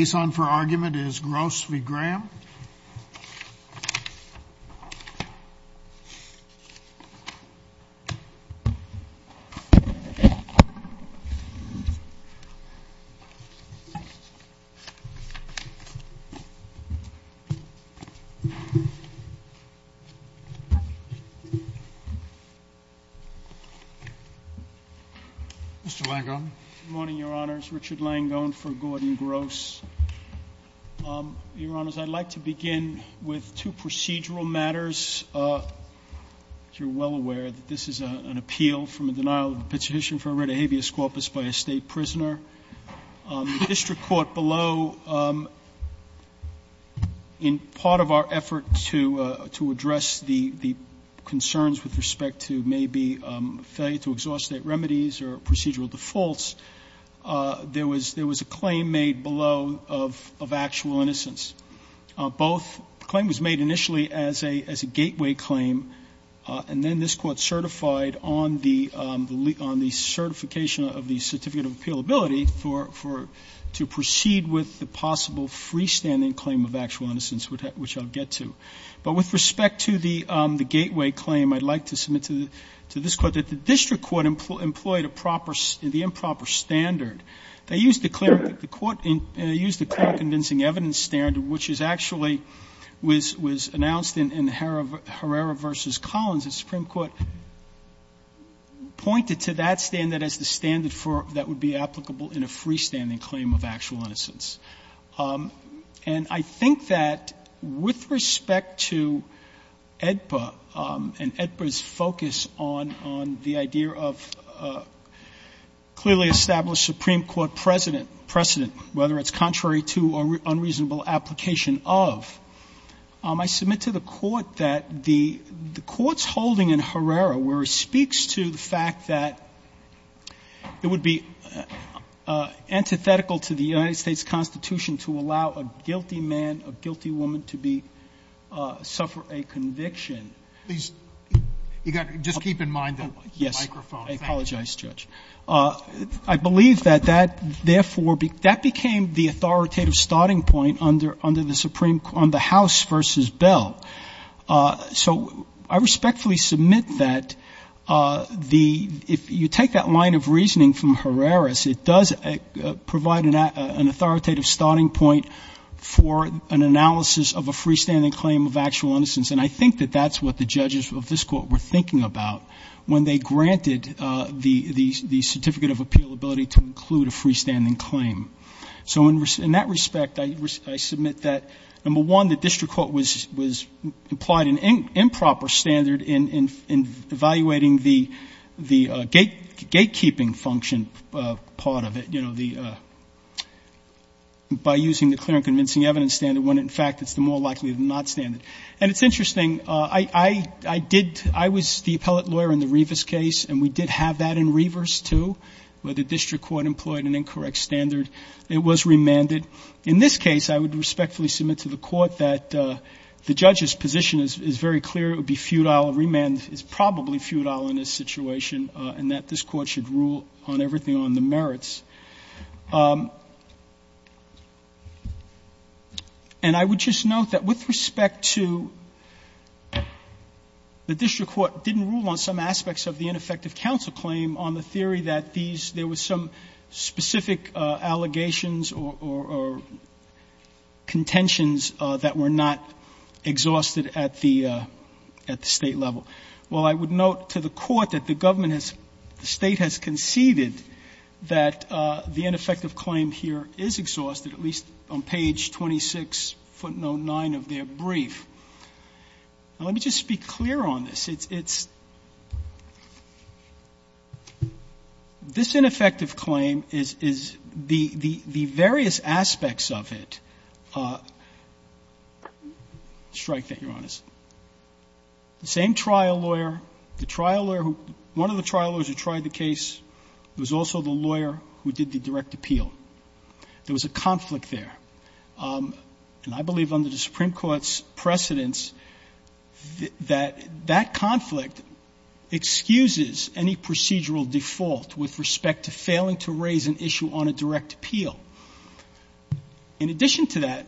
The next case on for argument is Gross v. Graham. Richard Langone Good morning, Your Honors. Richard Langone for Gordon Gross. Your Honors, I'd like to begin with two procedural matters. You're well aware that this is an appeal from a denial of the petition for a writ of habeas corpus by a State prisoner. The district court below, in part of our effort to address the concerns with respect to maybe failure to exhaust state remedies or procedural defaults, there was a claim made below of actual innocence. The claim was made initially as a gateway claim, and then this Court certified on the certification of the certificate of appealability for to proceed with the possible freestanding claim of actual innocence, which I'll get to. But with respect to the gateway claim, I'd like to submit to this Court that the district court employed a proper, the improper standard. They used a clear, the Court used a clear convincing evidence standard, which is actually was announced in Herrera v. Collins, and the Supreme Court pointed to that standard as the standard that would be applicable in a freestanding claim of actual innocence. And I think that with respect to AEDPA and AEDPA's focus on the idea of clearly established Supreme Court precedent, whether it's contrary to or unreasonable application of, I submit to the Court that the Court's holding in Herrera, where it speaks to the fact that it would be antithetical to the United States Constitution to allow a guilty man, a guilty woman to be, suffer a conviction. Please, you got to just keep in mind the microphone. Yes. Thank you. I apologize, Judge. I believe that that therefore, that became the authoritative starting point under the Supreme, on the House v. Bell. So I respectfully submit that the, if you take that line of reasoning from Herrera's, it does provide an authoritative starting point for an analysis of a freestanding claim of actual innocence. And I think that that's what the judges of this Court were thinking about when they granted the Certificate of Appeal ability to include a freestanding claim. So in that respect, I submit that, number one, the district court was implied an improper standard in evaluating the gatekeeping function part of it, you know, by using the clear and convincing evidence standard when, in fact, it's the more likely than not standard. And it's interesting. I did, I was the appellate lawyer in the Revers case, and we did have that in Revers too, where the district court employed an incorrect standard. It was remanded. In this case, I would respectfully submit to the Court that the judge's position is very clear. It would be futile. A remand is probably futile in this situation, and that this Court should rule on everything on the merits. And I would just note that with respect to the district court didn't rule on some aspects of the ineffective counsel claim on the theory that these, there was some specific allegations or contentions that were not exhausted at the State level. Well, I would note to the Court that the government has, the State has conceded that the ineffective claim here is exhausted, at least on page 26, footnote 9 of their brief. Now, let me just be clear on this. It's, it's, this ineffective claim is, is the, the, the various aspects of it strike that, Your Honors. The same trial lawyer, the trial lawyer who, one of the trial lawyers who tried the case was also the lawyer who did the direct appeal. There was a conflict there. And I believe under the Supreme Court's precedence that, that conflict excuses any procedural default with respect to failing to raise an issue on a direct appeal. In addition to that,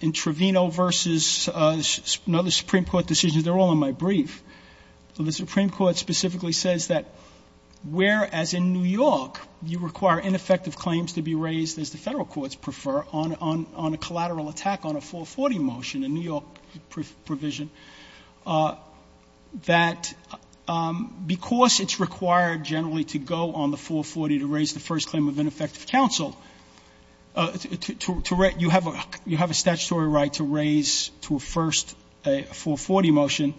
in Trevino v. another Supreme Court decision, they're all in my claims to be raised, as the Federal courts prefer, on, on, on a collateral attack on a 440 motion, a New York provision, that because it's required generally to go on the 440 to raise the first claim of ineffective counsel, to, to, you have a statutory right to raise to a first a 440 motion,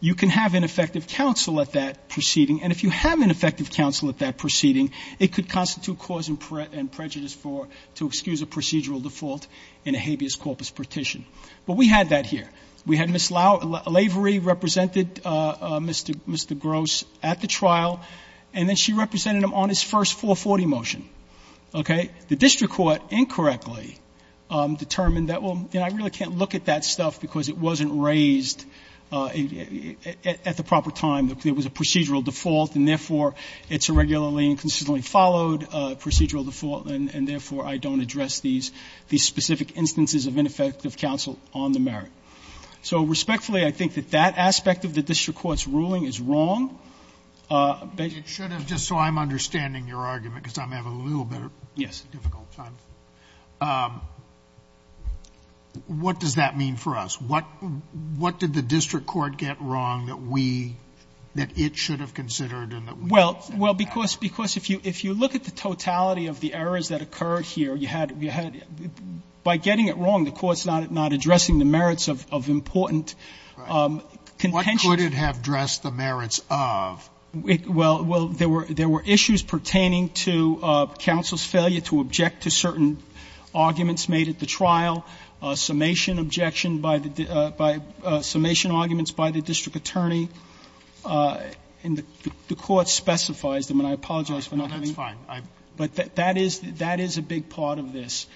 you can have ineffective counsel at that proceeding, and if you have ineffective counsel at that proceeding, it could constitute cause and prejudice for, to excuse a procedural default in a habeas corpus petition. But we had that here. We had Ms. Lavery represented Mr. Gross at the trial, and then she represented him on his first 440 motion. Okay? The district court incorrectly determined that, well, you know, I really can't look at that stuff because it wasn't raised at the proper time. There was a procedural default, and therefore, it's a regularly and consistently followed procedural default, and therefore, I don't address these specific instances of ineffective counsel on the merit. So respectfully, I think that that aspect of the district court's ruling is wrong. But you should have just so I'm understanding your argument, because I'm having a little bit of a difficult time. Yes. What does that mean for us? What did the district court get wrong that we, that it should have considered and that we should have? Well, because if you look at the totality of the errors that occurred here, you had by getting it wrong, the court's not addressing the merits of important contentions. What could it have addressed the merits of? Well, there were issues pertaining to counsel's failure to object to certain arguments made at the trial, summation objection by the by summation arguments by the district attorney, and the court specifies them, and I apologize for not having. That's fine. But that is a big part of this.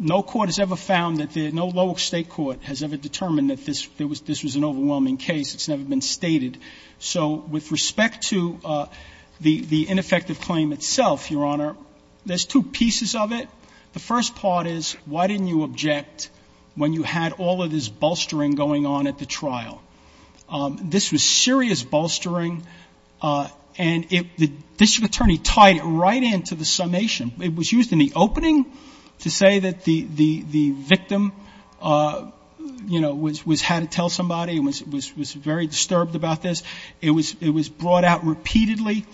No court has ever found that the no lower state court has ever determined that this was an overwhelming case. It's never been stated. So with respect to the ineffective claim itself, Your Honor, there's two pieces of it. The first part is, why didn't you object when you had all of this bolstering going on at the trial? This was serious bolstering, and the district attorney tied it right into the summation. It was used in the opening to say that the victim, you know, was had to tell somebody, was very disturbed about this. It was brought out repeatedly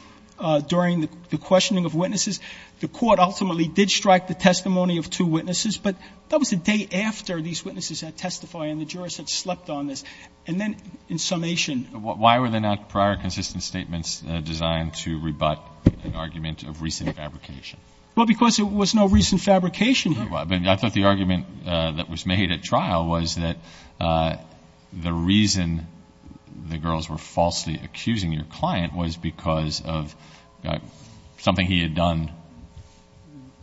during the questioning of witnesses. The court ultimately did strike the testimony of two witnesses, but that was the day after these witnesses had testified and the jurors had slept on this. And then in summation. Why were there not prior consistent statements designed to rebut an argument of recent fabrication? Well, because there was no recent fabrication here. I thought the argument that was made at trial was that the reason the girls were falsely accusing your client was because of something he had done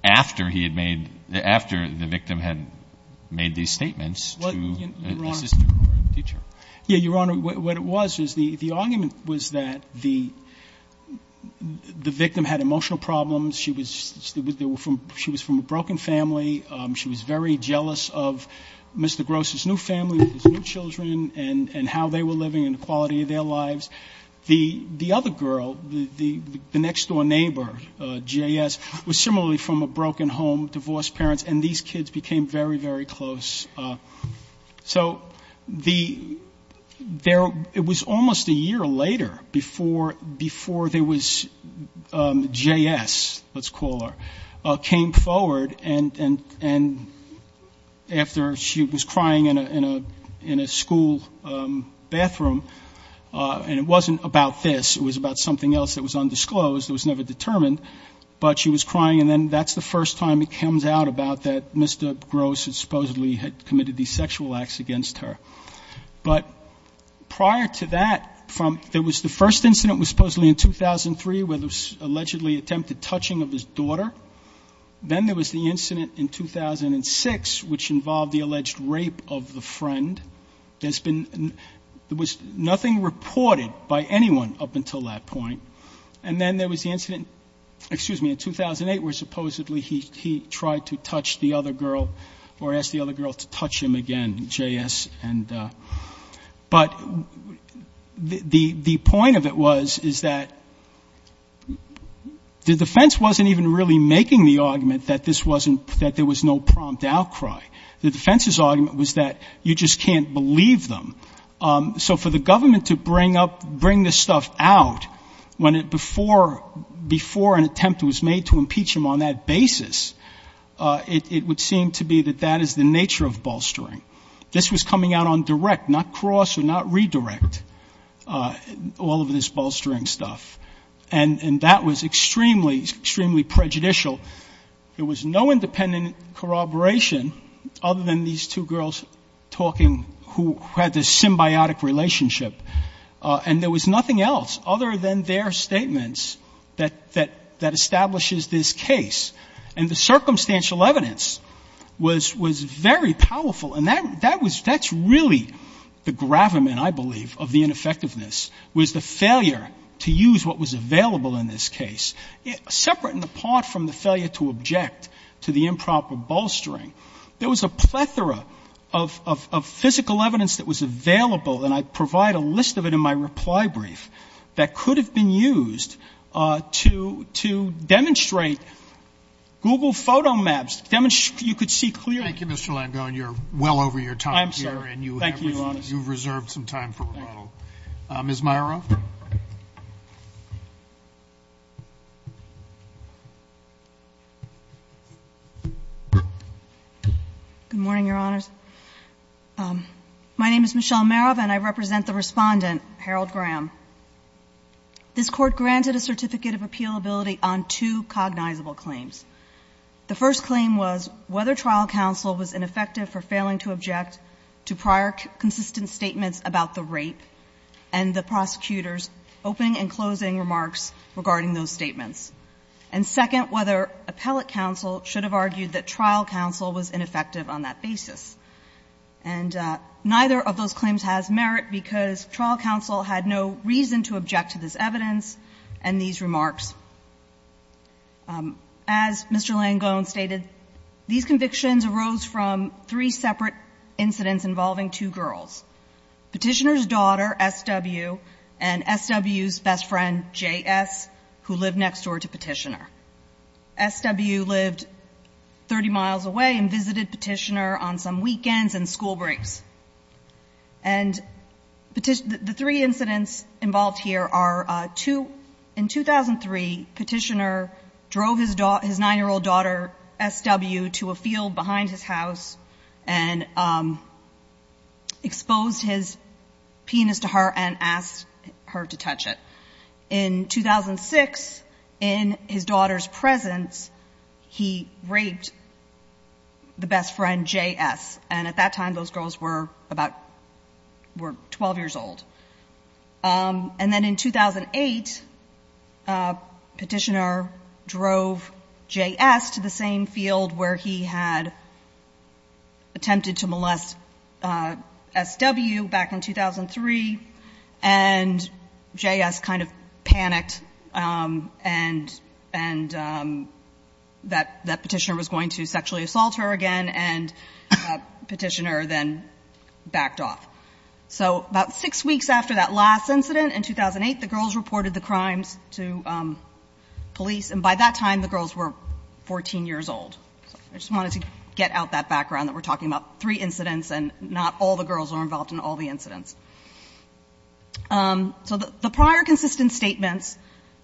after he had made, after the victim had made these statements to an assistant or a teacher. Yeah, Your Honor, what it was is the argument was that the victim had emotional problems. She was from a broken family. She was very jealous of Mr. Gross's new family, his new children, and how they were The other girl, the next-door neighbor, J.S., was similarly from a broken home, divorced parents, and these kids became very, very close. So it was almost a year later before there was J.S., let's call her, came forward and after she was about something else that was undisclosed, it was never determined, but she was crying and then that's the first time it comes out about that Mr. Gross supposedly had committed these sexual acts against her. But prior to that, there was the first incident was supposedly in 2003 where there was allegedly attempted touching of his daughter. Then there was the incident in 2006 which involved the alleged rape of the friend. There's been, there was nothing reported by anyone up until that point. And then there was the incident, excuse me, in 2008 where supposedly he tried to touch the other girl or asked the other girl to touch him again, J.S. But the point of it was is that the defense wasn't even really making the argument that this wasn't, that there was no prompt outcry. The defense's argument was that you just can't believe them. So for the government to bring up, bring this stuff out when it before, before an attempt was made to impeach him on that basis, it would seem to be that that is the nature of bolstering. This was coming out on direct, not cross or not redirect, all of this bolstering stuff. And that was extremely, extremely prejudicial. There was no independent corroboration other than these two girls talking who had this symbiotic relationship. And there was nothing else other than their statements that establishes this case. And the circumstantial evidence was very powerful. And that's really the gravamen, I believe, of the ineffectiveness, was the failure to use what was available in this case, separate and apart from the failure to object to the improper bolstering. There was a plethora of physical evidence that was available, and I provide a list of it in my reply brief, that could have been used to demonstrate Google photo maps, demonstrate you could see clearly. Thank you, Mr. Langone. You're well over your time here, and you have reserved some time for rebuttal. Ms. Myeroff? Good morning, Your Honors. My name is Michelle Myeroff, and I represent the Respondent, Harold Graham. This Court granted a certificate of appealability on two cognizable claims. The first claim was whether trial counsel was ineffective for failing to object to prior consistent statements about the rape and the prosecutor's opening and closing remarks regarding those statements. And second, whether appellate counsel should have argued that trial counsel was ineffective on that basis. And neither of those claims has merit because trial counsel had no reason to object to this evidence and these remarks. As Mr. Langone stated, these convictions arose from three separate incidents involving two girls, Petitioner's daughter, S.W., and S.W.'s best friend, J.S., who lived next door to Petitioner. S.W. lived 30 miles away and visited Petitioner on some weekends and school breaks. And the three incidents involved here are, in 2003, Petitioner drove his 9-year-old daughter, S.W., to a field behind his house and exposed his penis to her and asked her to touch it. In 2006, in his daughter's presence, he raped the best friend, J.S., and at that time those girls were about 12 years old. And then in 2008, Petitioner drove J.S. to the same field where he had attempted to molest S.W. back in 2003 and J.S. kind of panicked and that Petitioner was going to sexually abuse her and then backed off. So about six weeks after that last incident, in 2008, the girls reported the crimes to police, and by that time the girls were 14 years old. I just wanted to get out that background that we're talking about three incidents and not all the girls were involved in all the incidents. So the prior consistent statements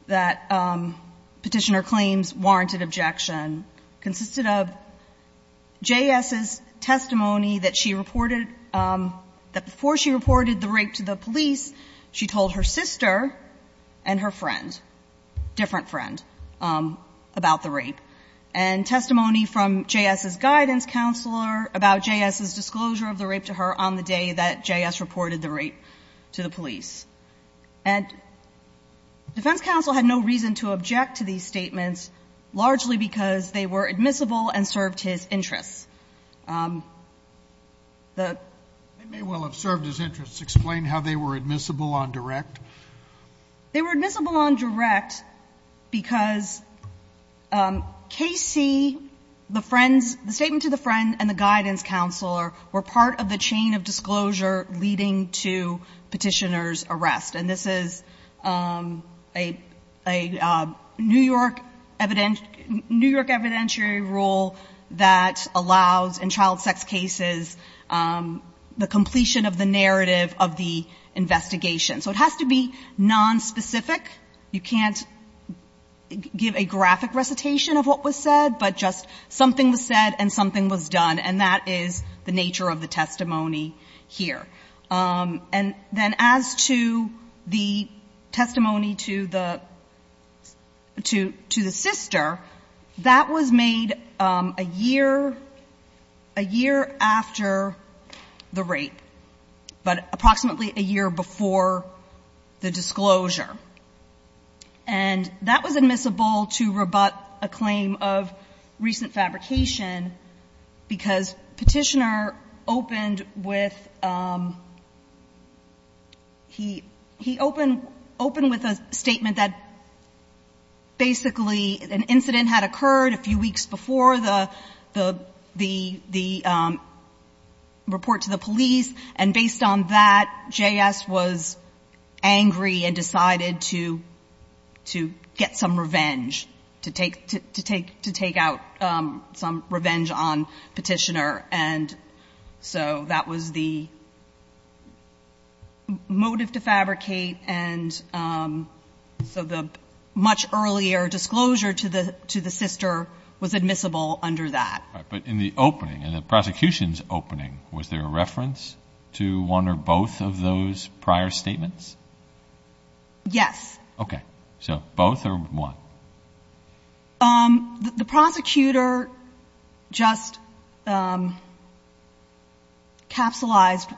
that Petitioner claims warranted objection consisted of J.S.'s testimony that she reported, that before she reported the rape to the police, she told her sister and her friend, different friend, about the rape. And testimony from J.S.'s guidance counselor about J.S.'s disclosure of the rape to her on the day that J.S. reported the rape to the police. And defense counsel had no reason to object to these statements, largely because they were admissible and served his interests. They may well have served his interests. Explain how they were admissible on direct. They were admissible on direct because K.C., the friends, the statement to the friend and the guidance counselor were part of the chain of disclosure leading to Petitioner's arrest. And this is a New York evidentiary rule that allows in child sex cases the completion of the narrative of the investigation. So it has to be nonspecific. You can't give a graphic recitation of what was said, but just something was said and something was done. And that is the nature of the testimony here. And then as to the testimony to the sister, that was made a year after the rape, but approximately a year before the disclosure. And that was admissible to rebut a claim of recent fabrication because Petitioner opened with, he opened with a statement that basically an incident had occurred a few weeks before the report to the police. And based on that, J.S. was angry and decided to get some revenge, to take out K.C. on Petitioner. And so that was the motive to fabricate. And so the much earlier disclosure to the sister was admissible under that. But in the opening, in the prosecution's opening, was there a reference to one or both of those prior statements? Yes. Okay. So both or one? The prosecutor just capsulized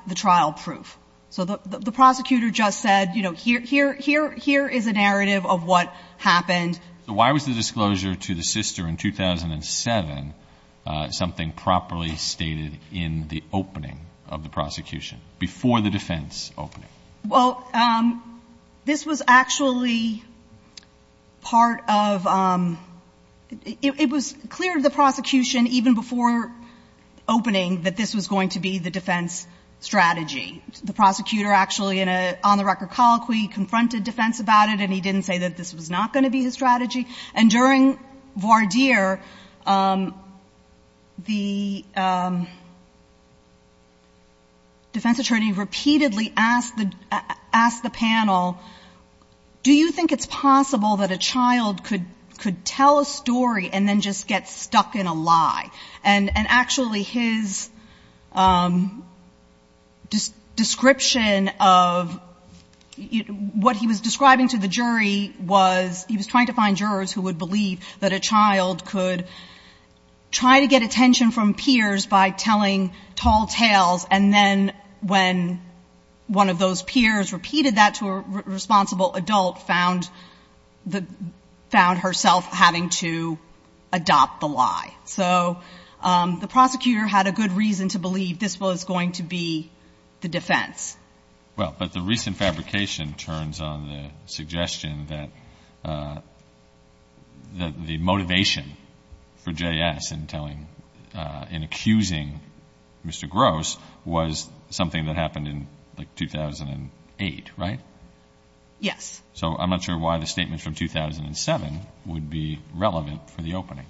the trial proof. So the prosecutor just said, you know, here is a narrative of what happened. So why was the disclosure to the sister in 2007 something properly stated in the opening of the prosecution, before the defense opening? Well, this was actually part of ‑‑ it was clear to the prosecution even before opening that this was going to be the defense strategy. The prosecutor actually in a on-the-record colloquy confronted defense about it, and he didn't say that this was not going to be his strategy. And during voir dire, the defense attorney repeatedly asked the panel, do you think it's possible that a child could tell a story and then just get stuck in a lie? And actually his description of what he was describing to the jury was he was trying to find jurors who would believe that a child could try to tell a story. And one of those peers repeated that to a responsible adult, found herself having to adopt the lie. So the prosecutor had a good reason to believe this was going to be the defense. Well, but the recent fabrication turns on the suggestion that the motivation for J.S. in telling ‑‑ in accusing Mr. Gross was something that happened in like 2008, right? Yes. So I'm not sure why the statement from 2007 would be relevant for the opening.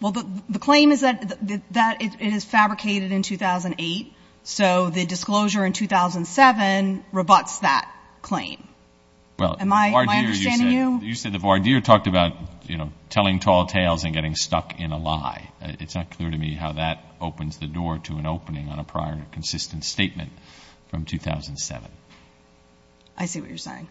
Well, the claim is that it is fabricated in 2008, so the disclosure in 2007 rebutts that claim. Am I understanding you? You said the voir dire talked about telling tall tales and getting stuck in a lie. It's not clear to me how that opens the door to an opening on a prior consistent statement from 2007. I see what you're saying.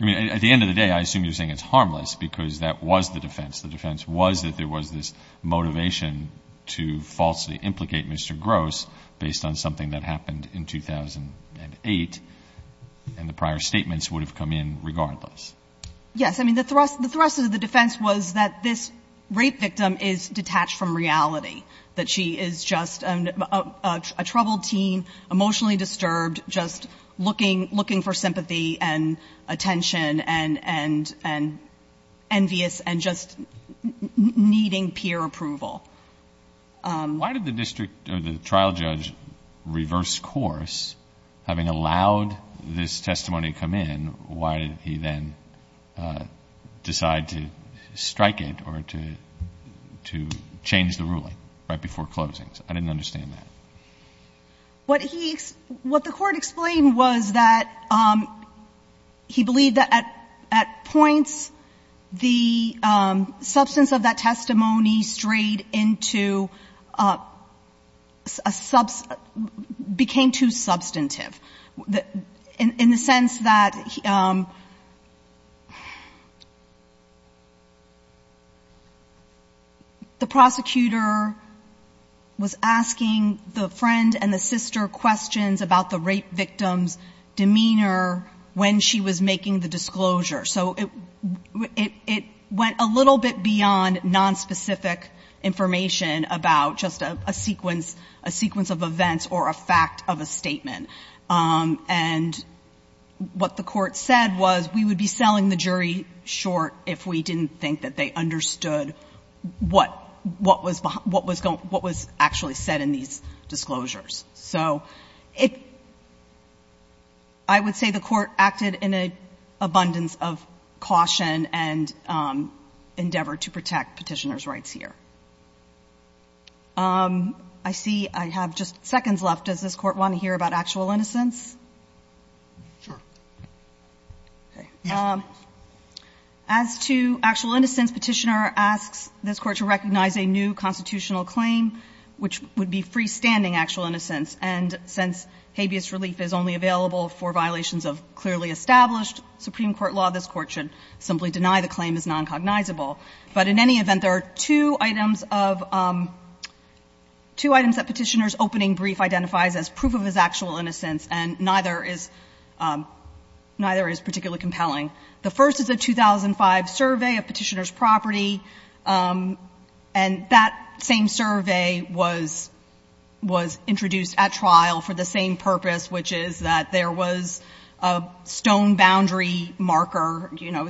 I mean, at the end of the day, I assume you're saying it's harmless because that was the defense. The defense was that there was this motivation to falsely implicate Mr. Gross based on something that happened in 2008, and the prior statements would have come in regardless. Yes. I mean, the thrust of the defense was that this rape victim is detached from reality, that she is just a troubled teen, emotionally disturbed, just looking for sympathy and attention and envious and just needing peer approval. Why did the district ‑‑ or the trial judge reverse course, having allowed this testimony to come in, why did he then decide to strike it or to change the ruling right before closing? I didn't understand that. What he ‑‑ what the Court explained was that he believed that at points the substance of that testimony strayed into a ‑‑ became too substantive, in the sense that the prosecutor was asking the friend and the sister questions about the rape victim's demeanor when she was making the disclosure. So it went a little bit beyond nonspecific information about just a sequence of events or a fact of a case, and what the Court said was we would be selling the jury short if we didn't think that they understood what was actually said in these disclosures. So I would say the Court acted in an abundance of caution and endeavor to protect petitioner's rights here. I see I have just seconds left. Does this Court want to hear about actual innocence? As to actual innocence, Petitioner asks this Court to recognize a new constitutional claim, which would be freestanding actual innocence, and since habeas relief is only available for violations of clearly established Supreme Court law, this Court should simply deny the claim as noncognizable. But in any event, there are two items of ‑‑ two items that Petitioner's opening brief identifies as proof of his actual innocence, and neither is ‑‑ neither is particularly compelling. The first is a 2005 survey of Petitioner's property, and that same survey was introduced at trial for the same purpose, which is that there was a stone boundary marker, you know,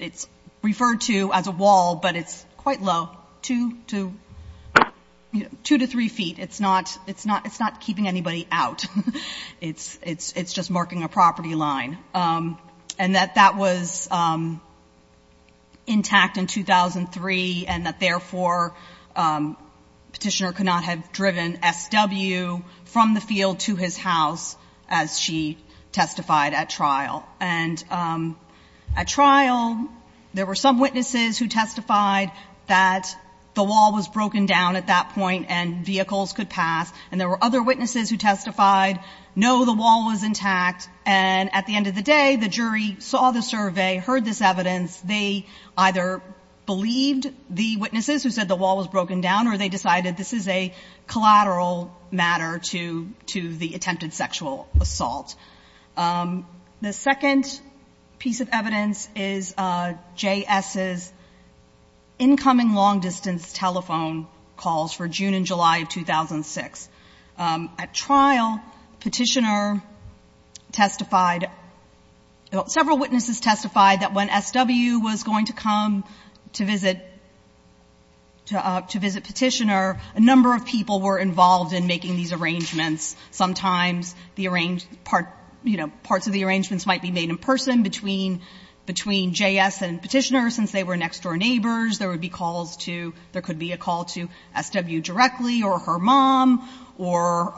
it's referred to as a wall, but it's quite low, two to three feet. It's not ‑‑ it's not keeping anybody out. It's just marking a property line. And that that was intact in 2003, and that, therefore, Petitioner could not have driven SW from the field to his house as she testified at trial. And at trial, there were some witnesses who testified that the wall was broken down at that point and vehicles could pass, and there were other witnesses who testified, no, the wall was intact, and at the end of the day, the jury saw the survey, heard this evidence, they either believed the witnesses who said the wall was broken down or they decided this is a collateral matter to the attempted sexual assault. The second piece of evidence is JS's incoming long distance telephone calls for June and July of 2006. At trial, Petitioner testified ‑‑ several witnesses testified that when SW was going to come to visit Petitioner, a number of people were involved in making these arrangements. Sometimes the arrange ‑‑ you know, parts of the arrangements might be made in person between JS and Petitioner since they were next door neighbors. There would be calls to ‑‑ there could be a call to SW directly or her mom or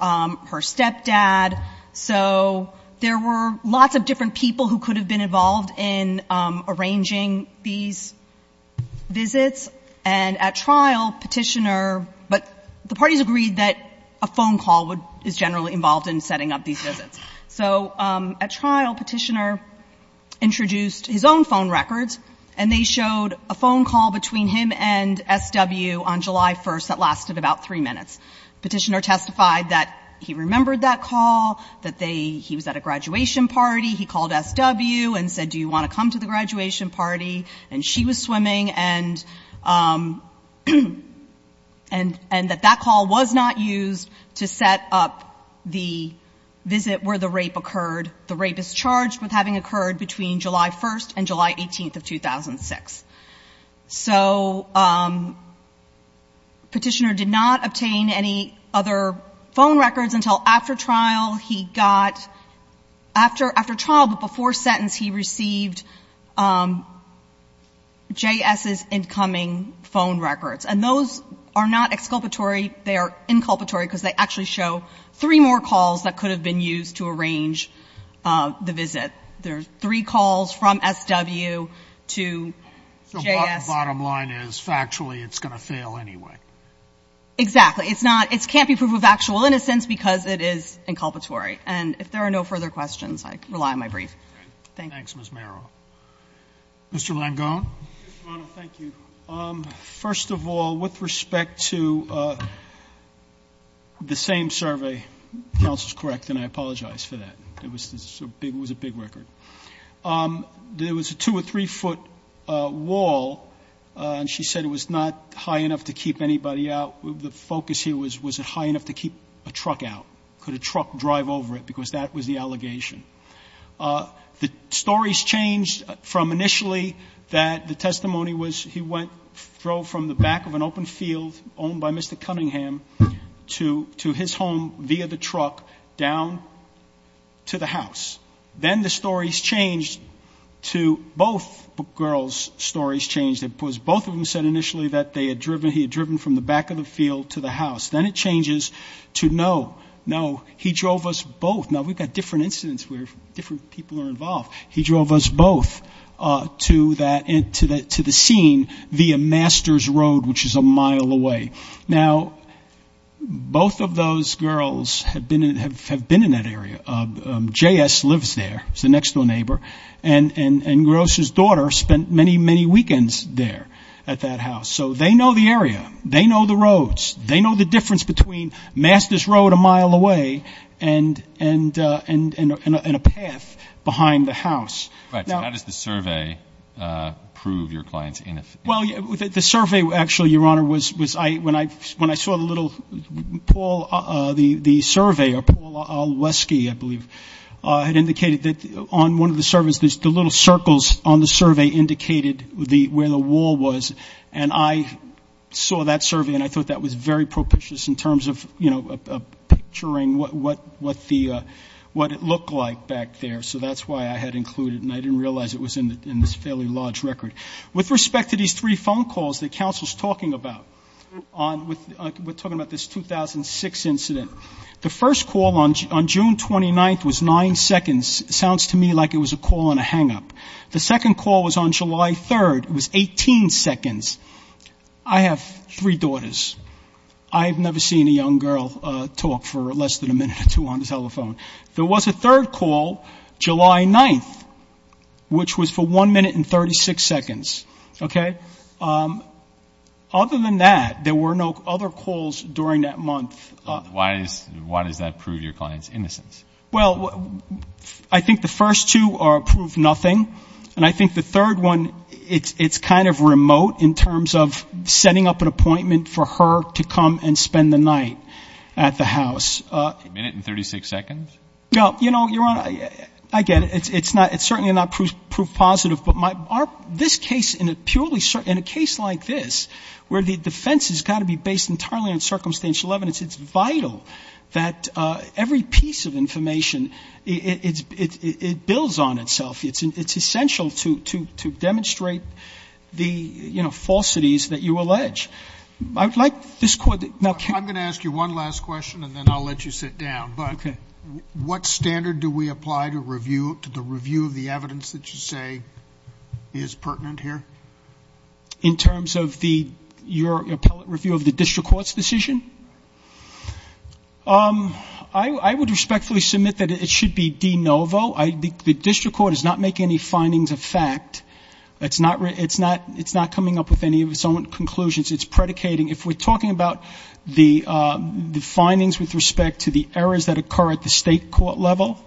her stepdad. So there were lots of different people who could have been involved in arranging these visits, and at trial, Petitioner ‑‑ but the parties agreed that a phone call is generally involved in setting up these visits. So at trial, Petitioner introduced his own phone records, and they showed a phone call between him and SW on July 1st that lasted about three minutes. Petitioner testified that he remembered that call, that they ‑‑ he was at a graduation party, he called SW and said, do you want to come to the graduation party, and she was swimming, and that that call was not used to set up the visit where the rape occurred. The rape is charged with having occurred between July 1st and July 18th of 2006. So Petitioner did not obtain any other phone records until after trial. He got ‑‑ after trial, but before sentence, he received JS's incoming phone records, and those are not exculpatory. They are inculpatory because they actually show three more calls that could have been used to arrange the visit. There are three calls from SW to JS. The bottom line is, factually, it's going to fail anyway. Exactly. It's not ‑‑ it can't be proof of actual innocence because it is inculpatory. And if there are no further questions, I rely on my brief. Thanks, Ms. Merrill. Mr. Langone. Mr. Mono, thank you. First of all, with respect to the same survey, counsel's correct, and I apologize for that. It was a big record. There was a two or three foot wall, and she said it was not high enough to keep anybody out. The focus here was, was it high enough to keep a truck out? Could a truck drive over it? Because that was the allegation. The stories changed from initially that the testimony was he went, drove from the back of an open field owned by Mr. Cunningham to his home via the truck down to the house. Then it changes to no, no, he drove us both. Now, we've got different incidents where different people are involved. He drove us both to the scene via Master's Road, which is a mile away. Now, both of those girls have been in that area. JS lives there. He's the next girl. He's the next girl. They've spent many, many weekends there at that house. So they know the area. They know the roads. They know the difference between Master's Road a mile away and a path behind the house. Right. So how does the survey prove your client's innocence? Well, the survey, actually, Your Honor, when I saw the little Paul, the survey, or Paul Alwesky, I believe, had indicated that on one of the surveys, the little circles on the survey indicated where the wall was. And I saw that survey, and I thought that was very propitious in terms of, you know, picturing what it looked like back there. So that's why I had included it. And I didn't realize it was in this fairly large record. With respect to these three phone calls that counsel's talking about, we're talking about this 2006 incident, the first call on June 29th was nine seconds. Sounds to me like it was a call and a hangup. The second call was on July 3rd. It was 18 seconds. I have three daughters. I have never seen a young girl talk for less than a minute or two on the telephone. There was a third call July 9th, which was for one minute and 36 seconds. Okay? Other than that, there were no other calls during that month. Why does that prove your client's innocence? Well, I think the first two prove nothing. And I think the third one, it's kind of remote in terms of setting up an appointment for her to come and spend the night at the house. A minute and 36 seconds? No. You know, Your Honor, I get it. It's certainly not proof positive. But this case, in a purely, in a case like this, where the defense has got to be based entirely on circumstantial evidence, it's vital that every piece of information, it builds on itself. It's essential to demonstrate the, you know, falsities that you allege. I would like this Court to now carry on. What standard do we apply to review, to the review of the evidence that you say is pertinent here? In terms of the, your appellate review of the district court's decision? I would respectfully submit that it should be de novo. The district court is not making any findings of fact. It's not coming up with any of its own conclusions. It's predicating. If we're talking about the findings with respect to the errors that occur at the state court level,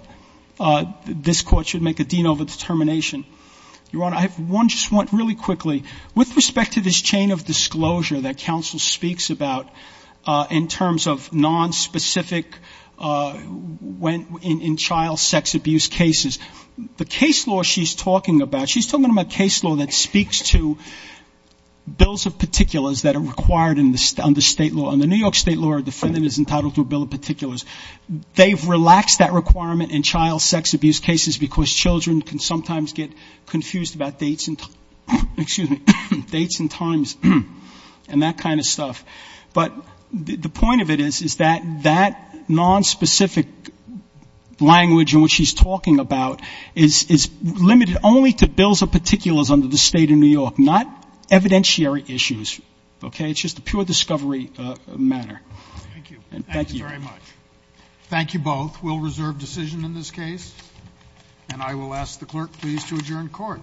this Court should make a de novo determination. Your Honor, I have one just really quickly. With respect to this chain of disclosure that counsel speaks about in terms of nonspecific, in child sex abuse cases, the case law she's talking about, she's talking about case law that speaks to bills of particulars that are required under state law. Under New York state law, a defendant is entitled to a bill of particulars. They've relaxed that requirement in child sex abuse cases, because children can sometimes get confused about dates and times and that kind of stuff. But the point of it is, is that that nonspecific language in which she's talking about is limited only to bills of particulars in the state of New York, not evidentiary issues. Okay? It's just a pure discovery matter. Thank you. Thank you very much. Thank you both. We'll reserve decision in this case, and I will ask the clerk, please, to adjourn court. Thank you.